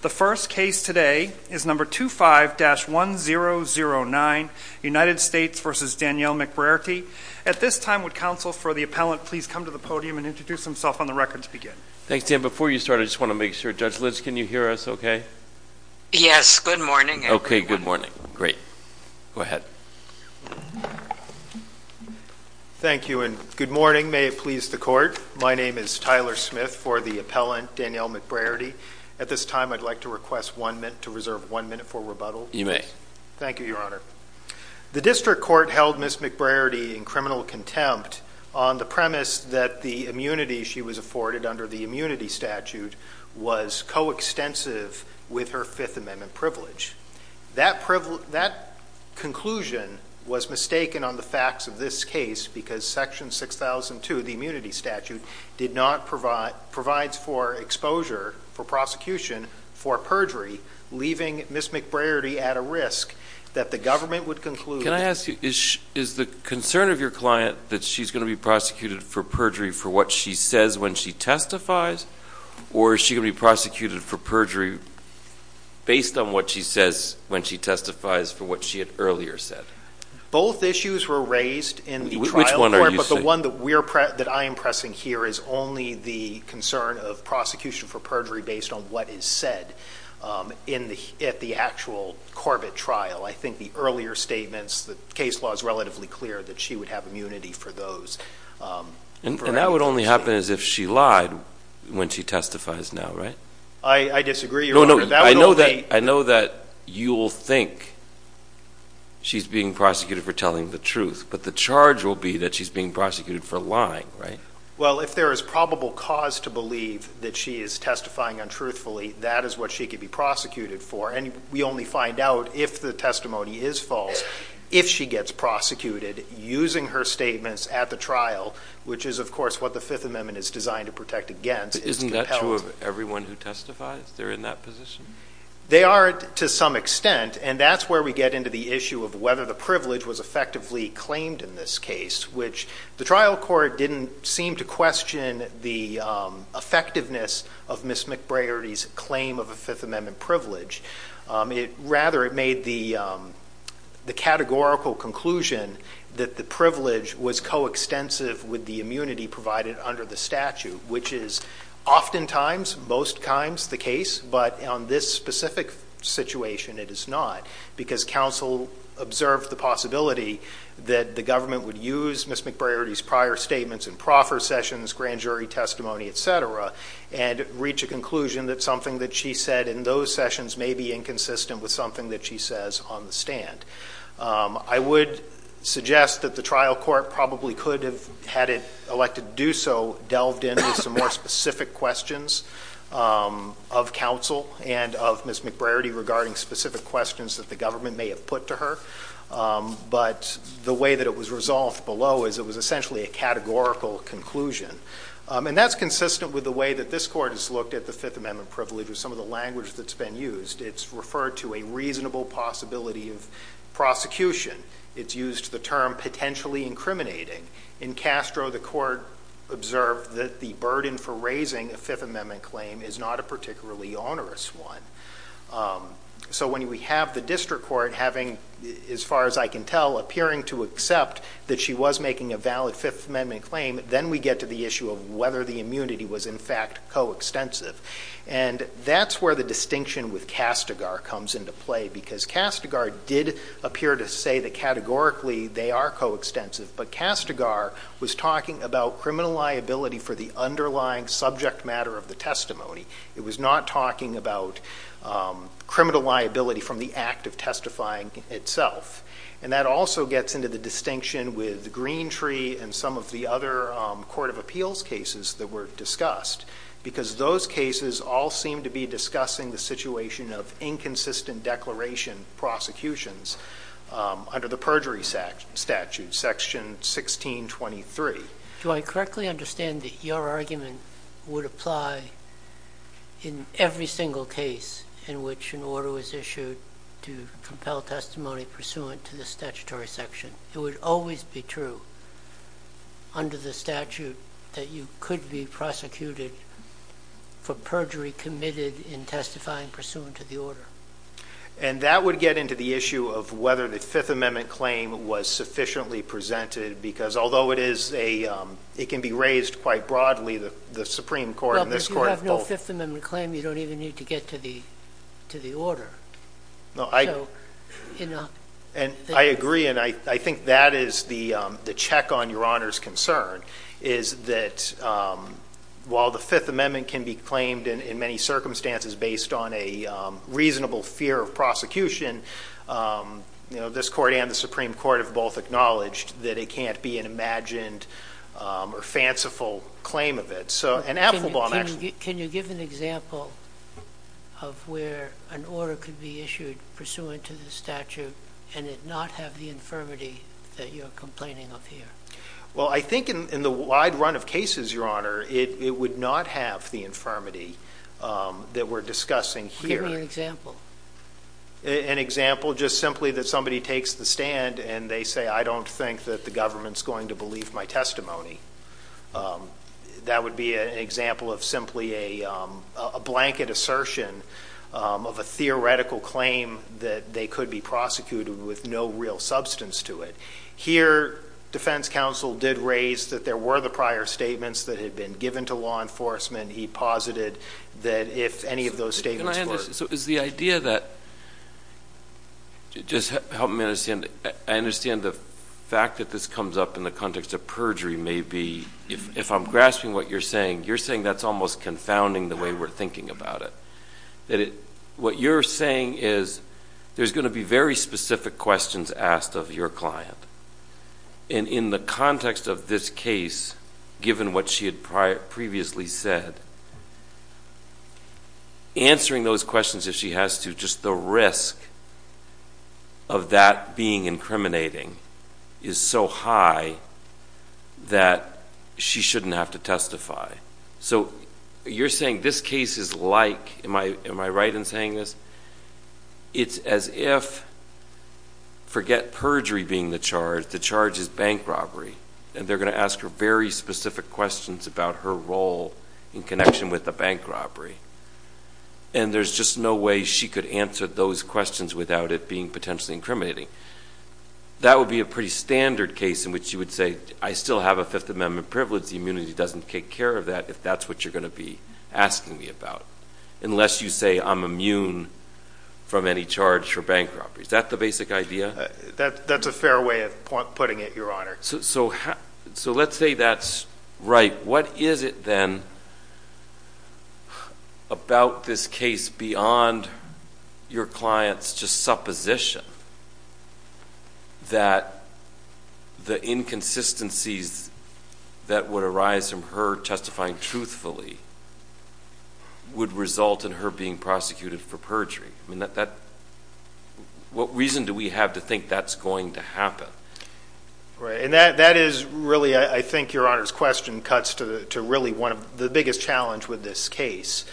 The first case today is number 25-1009, United States v. Danielle McBrearity. At this time, would counsel for the appellant please come to the podium and introduce himself on the record to begin. Thanks, Dan. Before you start, I just want to make sure. Judge Litz, can you hear us okay? Yes, good morning. Okay, good morning. Great. Go ahead. Thank you, and good morning. May it please the Court. My name is Tyler Smith for the appellant, Danielle McBrearity. At this time, I'd like to request to reserve one minute for rebuttal. You may. Thank you, Your Honor. The district court held Ms. McBrearity in criminal contempt on the premise that the immunity she was afforded under the immunity statute was coextensive with her Fifth Amendment privilege. That conclusion was mistaken on the facts of this case because Section 6002, the immunity for prosecution for perjury, leaving Ms. McBrearity at a risk that the government would conclude Can I ask you, is the concern of your client that she's going to be prosecuted for perjury for what she says when she testifies, or is she going to be prosecuted for perjury based on what she says when she testifies for what she had earlier said? Both issues were raised in the trial court, but the one that I am pressing here is only the concern of prosecution for perjury based on what is said at the actual Corbett trial. I think the earlier statements, the case law is relatively clear that she would have immunity for those. And that would only happen as if she lied when she testifies now, right? I disagree, Your Honor. That would only No, no. I know that you'll think she's being prosecuted for telling the truth, but the charge will be that she's being prosecuted for lying, right? Well, if there is probable cause to believe that she is testifying untruthfully, that is what she could be prosecuted for. And we only find out if the testimony is false if she gets prosecuted using her statements at the trial, which is, of course, what the Fifth Amendment is designed to protect against. Isn't that true of everyone who testifies? They're in that position? They are to some extent, and that's where we get into the issue of whether the privilege was effectively claimed in this case, which the trial court didn't seem to question the effectiveness of Ms. McBriarty's claim of a Fifth Amendment privilege. Rather, it made the categorical conclusion that the privilege was coextensive with the immunity provided under the statute, which is oftentimes, most times, the case. But on this specific situation, it is not, because counsel observed the possibility that the government would use Ms. McBriarty's prior statements in proffer sessions, grand jury testimony, et cetera, and reach a conclusion that something that she said in those sessions may be inconsistent with something that she says on the stand. I would suggest that the trial court probably could have had it elected to do so delved in with some more specific questions of counsel and of Ms. McBriarty regarding specific questions that the government may have put to her. But the way that it was resolved below is it was essentially a categorical conclusion. And that's consistent with the way that this Court has looked at the Fifth Amendment privilege with some of the language that's been used. It's referred to a reasonable possibility of prosecution. It's used the term potentially incriminating. In Castro, the Court observed that the burden for raising a Fifth Amendment claim is not a particularly onerous one. So when we have the district court having, as far as I can tell, appearing to accept that she was making a valid Fifth Amendment claim, then we get to the issue of whether the immunity was, in fact, coextensive. And that's where the distinction with Castigar comes into play, because Castigar did appear to say that categorically they are coextensive. But Castigar was talking about criminal liability for the underlying subject matter of the testimony. It was not talking about criminal liability from the act of testifying itself. And that also gets into the distinction with Greentree and some of the other Court of Appeals cases that were discussed, because those cases all seem to be discussing the situation of inconsistent declaration prosecutions under the perjury statute, Section 1623. Do I correctly understand that your argument would apply in every single case in which an order was issued to compel testimony pursuant to the statutory section? It would always be true under the statute that you could be prosecuted for perjury committed in testifying pursuant to the order. And that would get into the issue of whether the Fifth Amendment claim was sufficiently presented, because although it can be raised quite broadly, the Supreme Court and this Court both— Well, but if you have no Fifth Amendment claim, you don't even need to get to the order. And I agree, and I think that is the check on Your Honor's concern, is that while the Fifth Amendment can be claimed in many circumstances based on a reasonable fear of prosecution, this Court and the Supreme Court have both acknowledged that it can't be an imagined or fanciful claim of it. So— Can you give an example of where an order could be issued pursuant to the statute and it not have the infirmity that you're complaining of here? Well, I think in the wide run of cases, Your Honor, it would not have the infirmity that we're discussing here. Give me an example. An example just simply that somebody takes the stand and they say, I don't think that the government's going to believe my testimony. That would be an example of simply a blanket assertion of a theoretical claim that they could be prosecuted with no real substance to it. Here, defense counsel did raise that there were the prior statements that had been given to law enforcement. He posited that if any of those statements were— So is the idea that—just help me understand—I understand the fact that this comes up in the context of perjury may be—if I'm grasping what you're saying, you're saying that's almost confounding the way we're thinking about it. That what you're saying is there's going to be very specific questions asked of your client. And in the context of this case, given what she had previously said, answering those questions if she has to, just the risk of that being incriminating is so high that she shouldn't have to testify. So you're saying this case is like—am I right in saying this? It's as if, forget perjury being the charge, the charge is bank robbery, and they're going to ask her very specific questions about her role in connection with the bank robbery. And there's just no way she could answer those questions without it being potentially incriminating. That would be a pretty standard case in which you would say, I still have a Fifth Amendment privilege. The immunity doesn't take care of that if that's what you're going to be asking me about, unless you say I'm immune from any charge for bank robbery. Is that the basic idea? That's a fair way of putting it, Your Honor. So let's say that's right. What is it, then, about this case beyond your client's just supposition that the inconsistencies that would arise from her testifying truthfully would result in her being prosecuted for perjury? What reason do we have to think that's going to happen? Right. And that is really, I think, Your Honor's question cuts to really the biggest challenge with this case.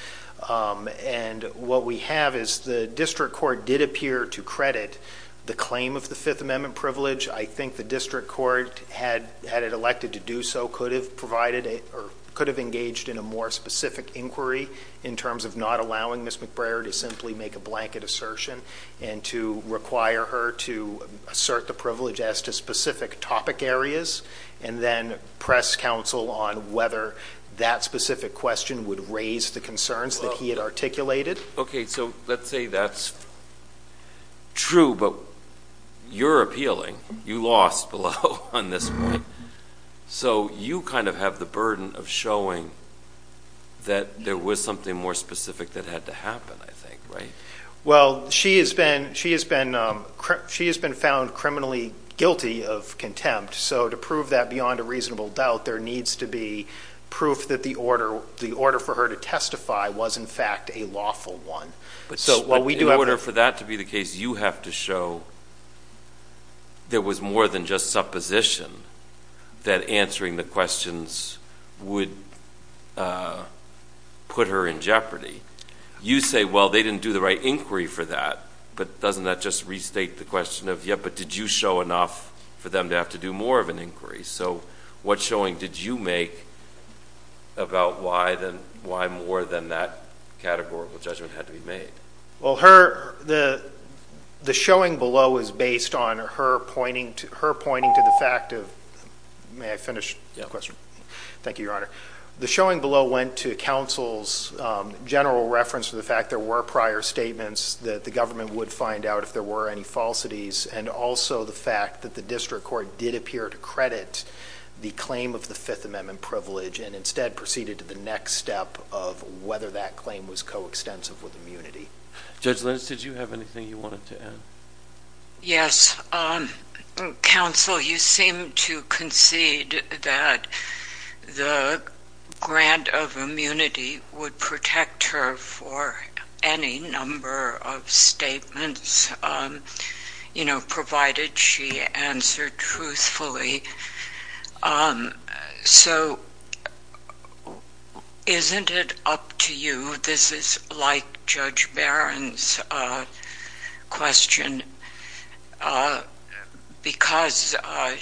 And what we have is the district court did appear to credit the claim of the Fifth Amendment privilege. I think the district court, had it elected to do so, could have engaged in a more specific inquiry in terms of not allowing Ms. McBrayer to simply make a blanket assertion and to require her to assert the privilege as to specific topic areas, and then press counsel on whether that specific question would raise the concerns that he had articulated. Okay. So let's say that's true, but you're appealing. You lost below on this one. So you kind of have the burden of showing that there was something more specific that had to happen, I think, right? Well, she has been found criminally guilty of contempt. So to prove that beyond a reasonable doubt, there needs to be proof that the order for her to testify was, in fact, a lawful one. So what we do have to... But in order for that to be the case, you have to show there was more than just supposition that answering the questions would put her in jeopardy. You say, well, they didn't do the right inquiry for that. But doesn't that just restate the question of, yeah, but did you show enough for them to have to do more of an inquiry? So what showing did you make about why more than that categorical judgment had to be made? Well, the showing below is based on her pointing to the fact of... May I finish the question? Thank you, Your Honor. The showing below went to counsel's general reference to the fact there were prior statements that the government would find out if there were any falsities and also the fact that the district court did appear to credit the claim of the Fifth Amendment privilege and instead proceeded to the next step of whether that claim was coextensive with immunity. Judge Linz, did you have anything you wanted to add? Yes. Counsel, you seem to concede that the grant of immunity would protect her for any number of statements, you know, provided she answered truthfully. So isn't it up to you? This is like Judge Barron's question because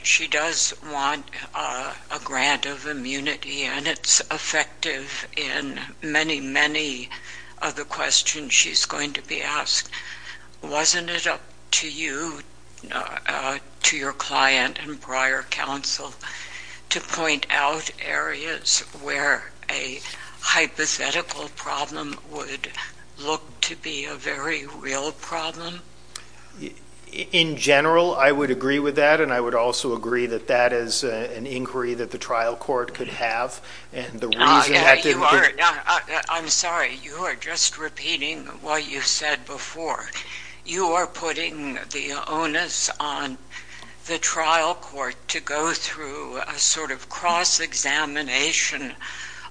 she does want a grant of immunity and it's effective in many, many of the questions she's going to be asked. Wasn't it up to you, to your client and prior counsel, to point out areas where a hypothetical problem would look to be a very real problem? In general, I would agree with that and I would also agree that that is an inquiry that the trial court could have and the reason that... I'm sorry, you are just repeating what you said before. You are putting the onus on the trial court to go through a sort of cross-examination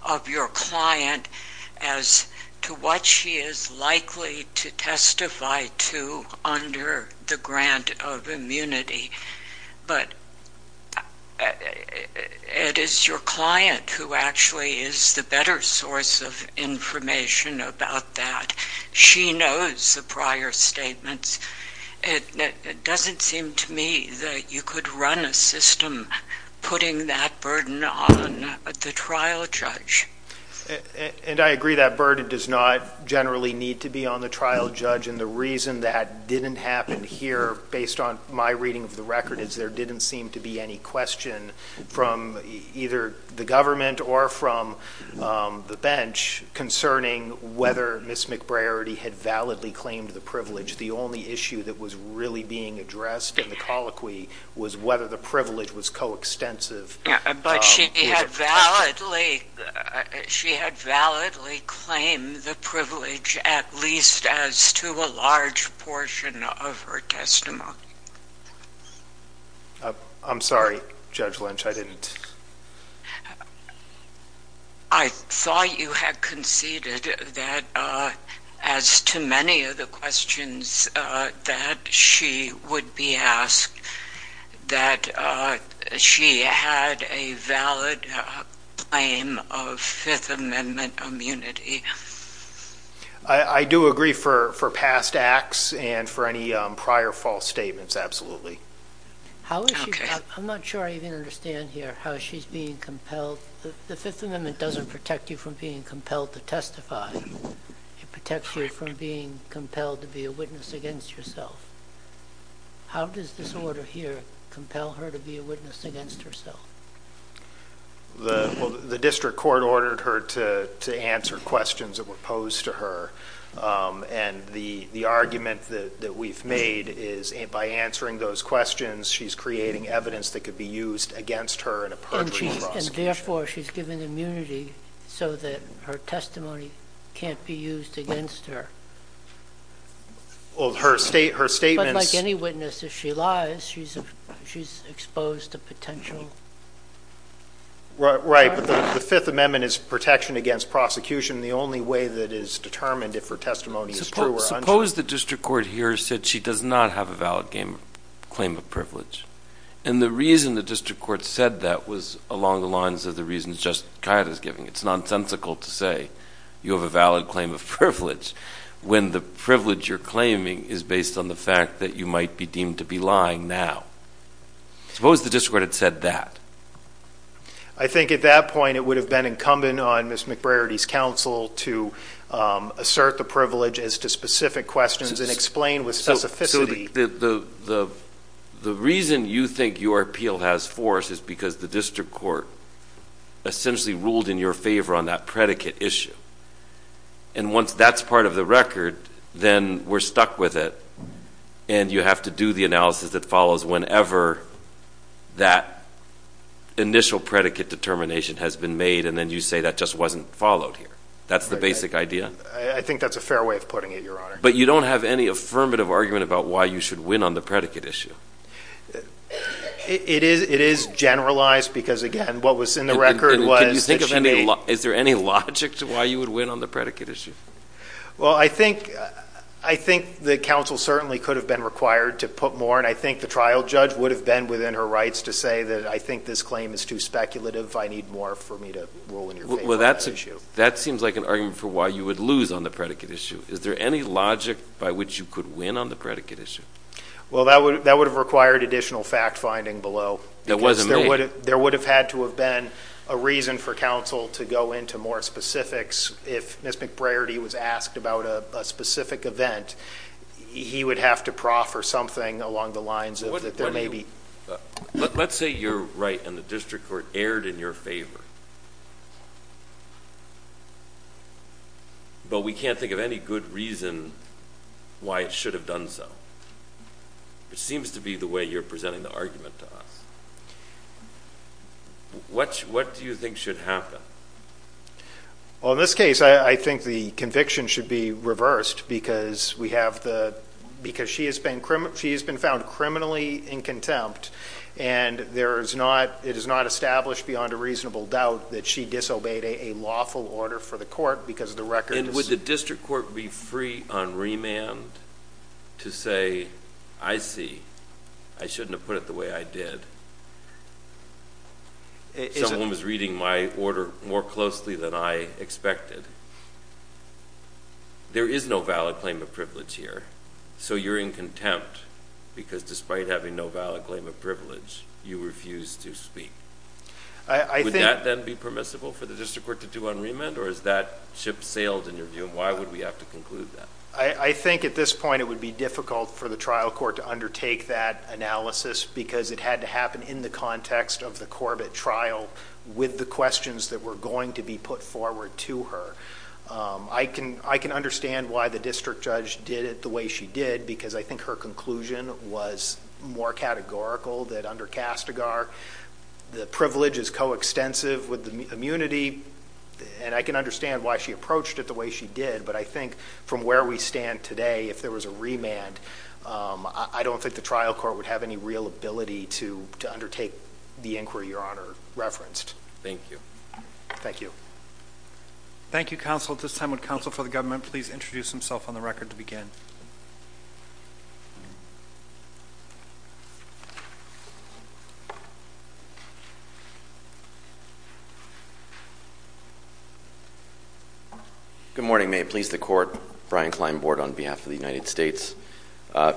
of your client as to what she is likely to testify to under the grant of immunity. But it is your client who actually is the better source of information about that. She knows the prior statements. It doesn't seem to me that you could run a system putting that burden on the trial judge. And I agree that burden does not generally need to be on the trial judge and the reason that didn't happen here based on my reading of the record is there didn't seem to be any question from either the government or from the bench concerning whether Ms. McBriarty had validly claimed the privilege. The only issue that was really being addressed in the colloquy was whether the privilege was co-extensive. But she had validly claimed the privilege at least as to a large portion of her testimony. I'm sorry, Judge Lynch, I didn't... I thought you had conceded that as to many of the questions that she would be asked, that she had a valid claim of Fifth Amendment immunity. I do agree for past acts and for any prior false statements, absolutely. How is she... I'm not sure I even understand here how she's being compelled... The Fifth Amendment doesn't protect you from being compelled to testify. It protects you from being compelled to be a witness against yourself. How does this order here compel her to be a witness against herself? Well, the district court ordered her to answer questions that were posed to her. And the argument that we've made is by answering those questions, she's creating evidence that could be used against her in a perjury prosecution. And therefore, she's given immunity so that her testimony can't be used against her. Well, her statements... But like any witness, if she lies, she's exposed to potential... Right, but the Fifth Amendment is protection against prosecution. The only way that is determined if her testimony is true or untrue... Suppose the district court here said she does not have a valid claim of privilege. And the reason the district court said that was along the lines of the reasons Justice Cuyata is giving. It's nonsensical to say you have a valid claim of privilege when the privilege you're claiming is based on the fact that you might be deemed to be lying now. Suppose the district court had said that. I think at that point, it would have been incumbent on Ms. McBrarity's counsel to assert the privilege as to specific questions and explain with specificity... So the reason you think your appeal has force is because the district court essentially ruled in your favor on that predicate issue. And once that's part of the record, then we're stuck with it. And you have to do the analysis that follows whenever that initial predicate determination has been made. And then you say that just wasn't followed here. That's the basic idea. I think that's a fair way of putting it, Your Honor. But you don't have any affirmative argument about why you should win on the predicate issue. It is generalized because, again, what was in the record was... Can you think of any... Is there any logic to why you would win on the predicate issue? Well, I think the counsel certainly could have been required to put more. I think the trial judge would have been within her rights to say that, I think this claim is too speculative. I need more for me to rule in your favor on that issue. That seems like an argument for why you would lose on the predicate issue. Is there any logic by which you could win on the predicate issue? Well, that would have required additional fact-finding below. That wasn't me. There would have had to have been a reason for counsel to go into more specifics. If Ms. McBrarity was asked about a specific event, he would have to proffer something along the lines of that there may be... Let's say you're right and the district court erred in your favor. But we can't think of any good reason why it should have done so. It seems to be the way you're presenting the argument to us. What do you think should happen? Well, in this case, I think the conviction should be reversed because we have the... Because she has been found criminally in contempt and it is not established beyond a reasonable doubt that she disobeyed a lawful order for the court because of the record. And would the district court be free on remand to say, I see, I shouldn't have put it the way I did? Someone was reading my order more closely than I expected. There is no valid claim of privilege here. So you're in contempt because despite having no valid claim of privilege, you refuse to speak. Would that then be permissible for the district court to do on remand? Or is that ship sailed in your view? And why would we have to conclude that? I think at this point, it would be difficult for the trial court to undertake that in the context of the Corbett trial with the questions that were going to be put forward to her. I can understand why the district judge did it the way she did, because I think her conclusion was more categorical that under Castigar, the privilege is coextensive with the immunity. And I can understand why she approached it the way she did. But I think from where we stand today, if there was a remand, I don't think the trial court would have any real ability to undertake the inquiry Your Honor referenced. Thank you. Thank you. Thank you, counsel. At this time, would counsel for the government please introduce himself on the record to begin? Good morning. May it please the court. Brian Klein, board on behalf of the United States.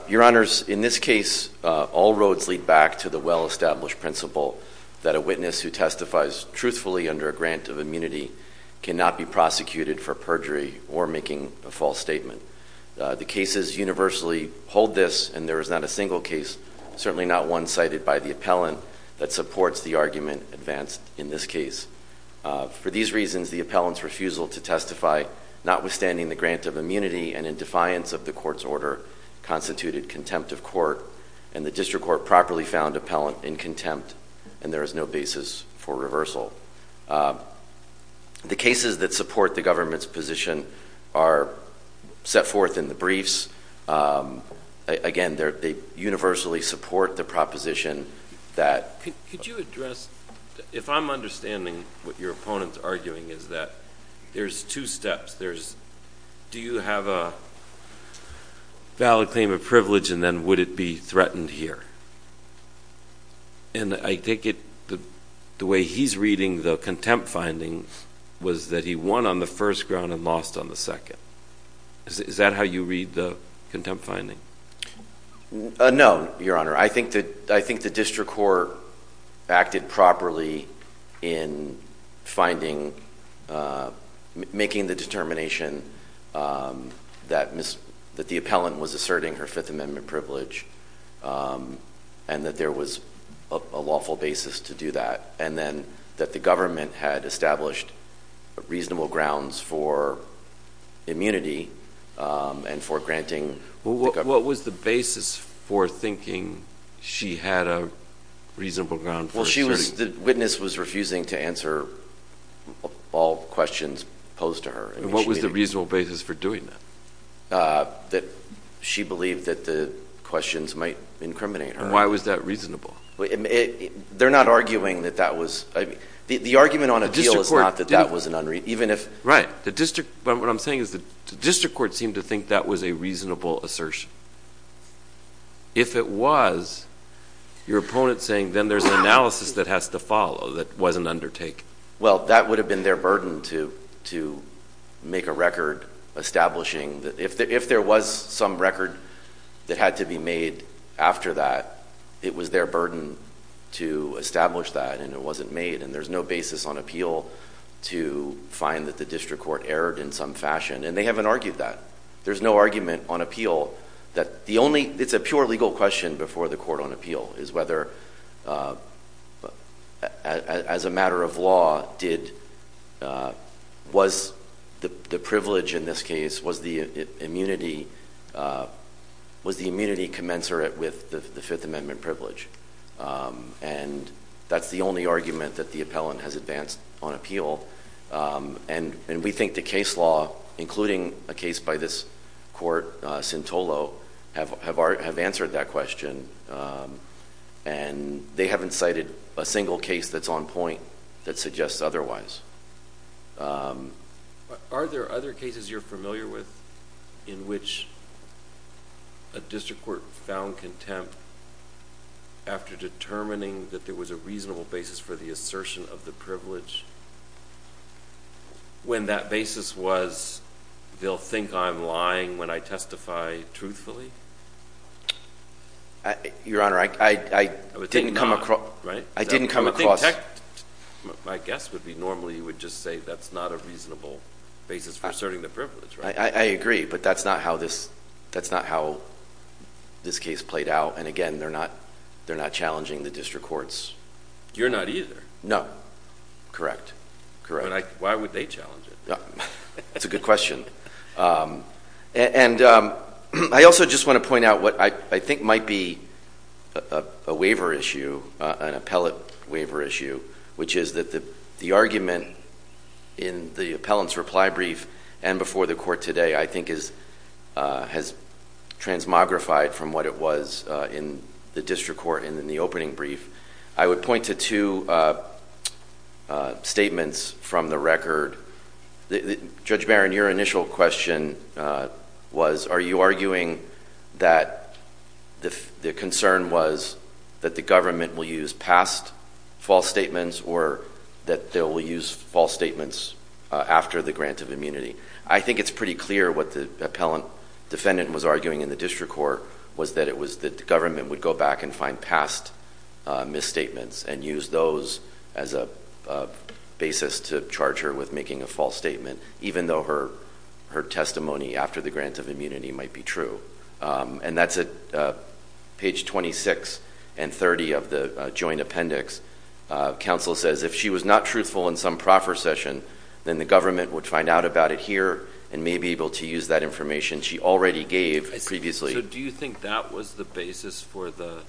Your honors, in this case, all roads lead back to the well-established principle that a witness who testifies truthfully under a grant of immunity cannot be prosecuted for perjury or making a false statement. The cases universally hold this and there is not a single case, certainly not one cited by the appellant that supports the argument advanced in this case. For these reasons, the appellant's refusal to testify, notwithstanding the grant of immunity and in defiance of the court's order, constituted contempt of court and the district court properly found appellant in contempt and there is no basis for reversal. The cases that support the government's position are set forth in the briefs. Again, they universally support the proposition that... Could you address, if I'm understanding what your opponent's arguing is that there's two steps. Do you have a valid claim of privilege and then would it be threatened here? And I take it the way he's reading the contempt findings was that he won on the first ground and lost on the second. Is that how you read the contempt finding? No, your honor. I think the district court acted properly in making the determination that the appellant was asserting her Fifth Amendment privilege and that there was a lawful basis to do that. And then that the government had established reasonable grounds for immunity and for granting- What was the basis for thinking she had a reasonable ground for asserting? The witness was refusing to answer all questions posed to her. What was the reasonable basis for doing that? She believed that the questions might incriminate her. Why was that reasonable? They're not arguing that that was... The argument on appeal is not that that was an unreasonable... Right. What I'm saying is the district court seemed to think that was a reasonable assertion. If it was, your opponent's saying then there's an analysis that has to follow that wasn't undertaken. Well, that would have been their burden to make a record establishing that. If there was some record that had to be made after that, it was their burden to establish that and it wasn't made. And there's no basis on appeal to find that the district court erred in some fashion. And they haven't argued that. There's no argument on appeal that the only... It's a pure legal question before the court on appeal is whether, as a matter of law, was the privilege in this case, was the immunity commensurate with the Fifth Amendment privilege? And that's the only argument that the appellant has advanced on appeal. And we think the case law, including a case by this court, Sintolo, have answered that question. And they haven't cited a single case that's on point that suggests otherwise. Are there other cases you're familiar with in which a district court found contempt after determining that there was a reasonable basis for the assertion of the privilege when that basis was, they'll think I'm lying when I testify truthfully? Your Honor, I didn't come across... I think my guess would be normally you would just say that's not a reasonable basis for asserting the privilege, right? I agree, but that's not how this case played out. And again, they're not challenging the district courts. You're not either. No, correct. Why would they challenge it? That's a good question. And I also just want to point out what I think might be a waiver issue, an appellate waiver issue, which is that the argument in the appellant's reply brief and before the court today, I think has transmogrified from what it was in the district court and in the opening brief. I would point to two statements from the record. Judge Barron, your initial question was, are you arguing that the concern was that the government will use past false statements or that they'll use false statements after the grant of immunity? I think it's pretty clear what the appellant defendant was arguing in the district court was that the government would go back and find past misstatements and use those as a basis to charge her with making a false statement, even though her testimony after the grant of immunity might be true. And that's at page 26 and 30 of the joint appendix. Counsel says if she was not truthful in some proffer session, then the government would find out about it here and may be able to use that information she already gave previously. Do you think that was the basis for the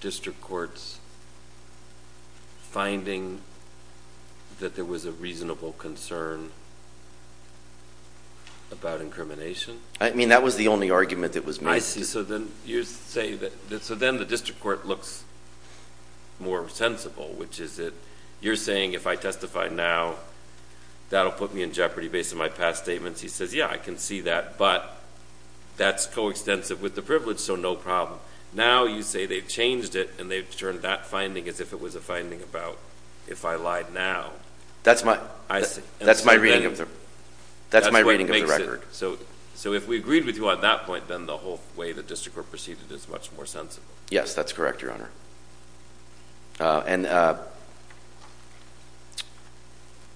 district court's finding that there was a reasonable concern about incrimination? I mean, that was the only argument that was made. I see. So then the district court looks more sensible, which is that you're saying, if I testify now, that'll put me in jeopardy based on my past statements. He says, yeah, I can see that. But that's coextensive with the privilege, so no problem. Now you say they've changed it, and they've turned that finding as if it was a finding about if I lied now. That's my reading of the record. So if we agreed with you on that point, then the whole way the district court proceeded is much more sensible. Yes, that's correct, Your Honor. And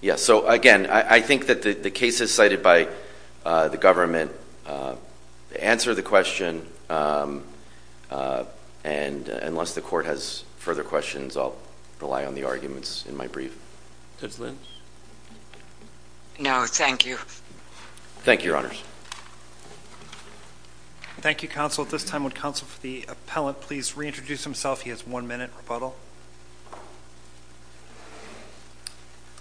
yes, so again, I think that the case is cited by the government. Answer the question, and unless the court has further questions, I'll rely on the arguments in my brief. Judge Lynch? No, thank you. Thank you, Your Honors. Thank you, counsel. At this time, would counsel for the appellant please reintroduce himself? He has a question. He has one minute rebuttal.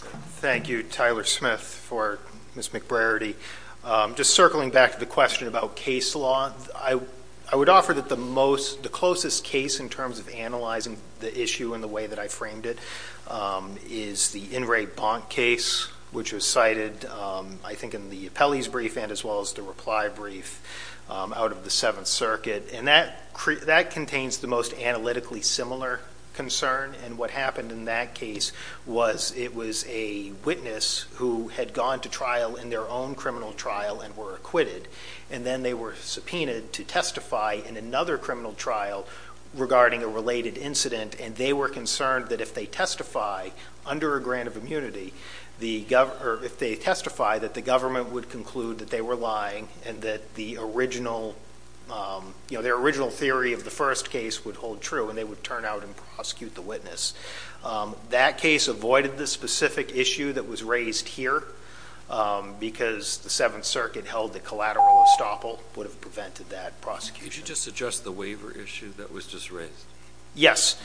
Thank you, Tyler Smith, for Ms. McBrarity. Just circling back to the question about case law, I would offer that the closest case in terms of analyzing the issue in the way that I framed it is the In Re Bont case, which was cited, I think, in the appellee's brief and as well as the reply brief out of the Seventh Circuit. And that contains the most analytically similar concern. And what happened in that case was it was a witness who had gone to trial in their own criminal trial and were acquitted. And then they were subpoenaed to testify in another criminal trial regarding a related incident. And they were concerned that if they testify under a grant of immunity, or if they testify that the government would conclude that they were lying and that their original theory of the first case would hold true and they would turn out and prosecute the witness. That case avoided the specific issue that was raised here because the Seventh Circuit held that collateral estoppel would have prevented that prosecution. Could you just suggest the waiver issue that was just raised? Yes.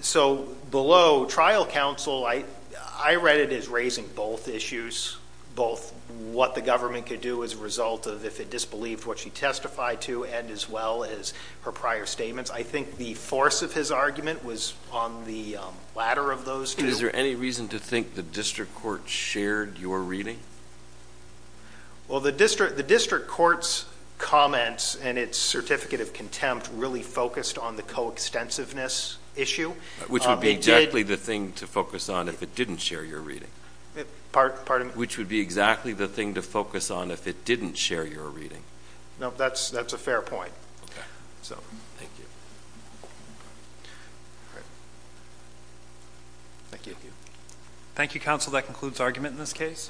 So below trial counsel, I read it as raising both issues, both what the government could do as a result of if it disbelieved what she testified to and as well as her prior statements. I think the force of his argument was on the latter of those two. Is there any reason to think the district court shared your reading? Well, the district court's comments and its certificate of contempt really focused on the coextensiveness issue. Which would be exactly the thing to focus on if it didn't share your reading. Which would be exactly the thing to focus on if it didn't share your reading. No, that's a fair point. Thank you. Thank you, counsel. That concludes argument in this case.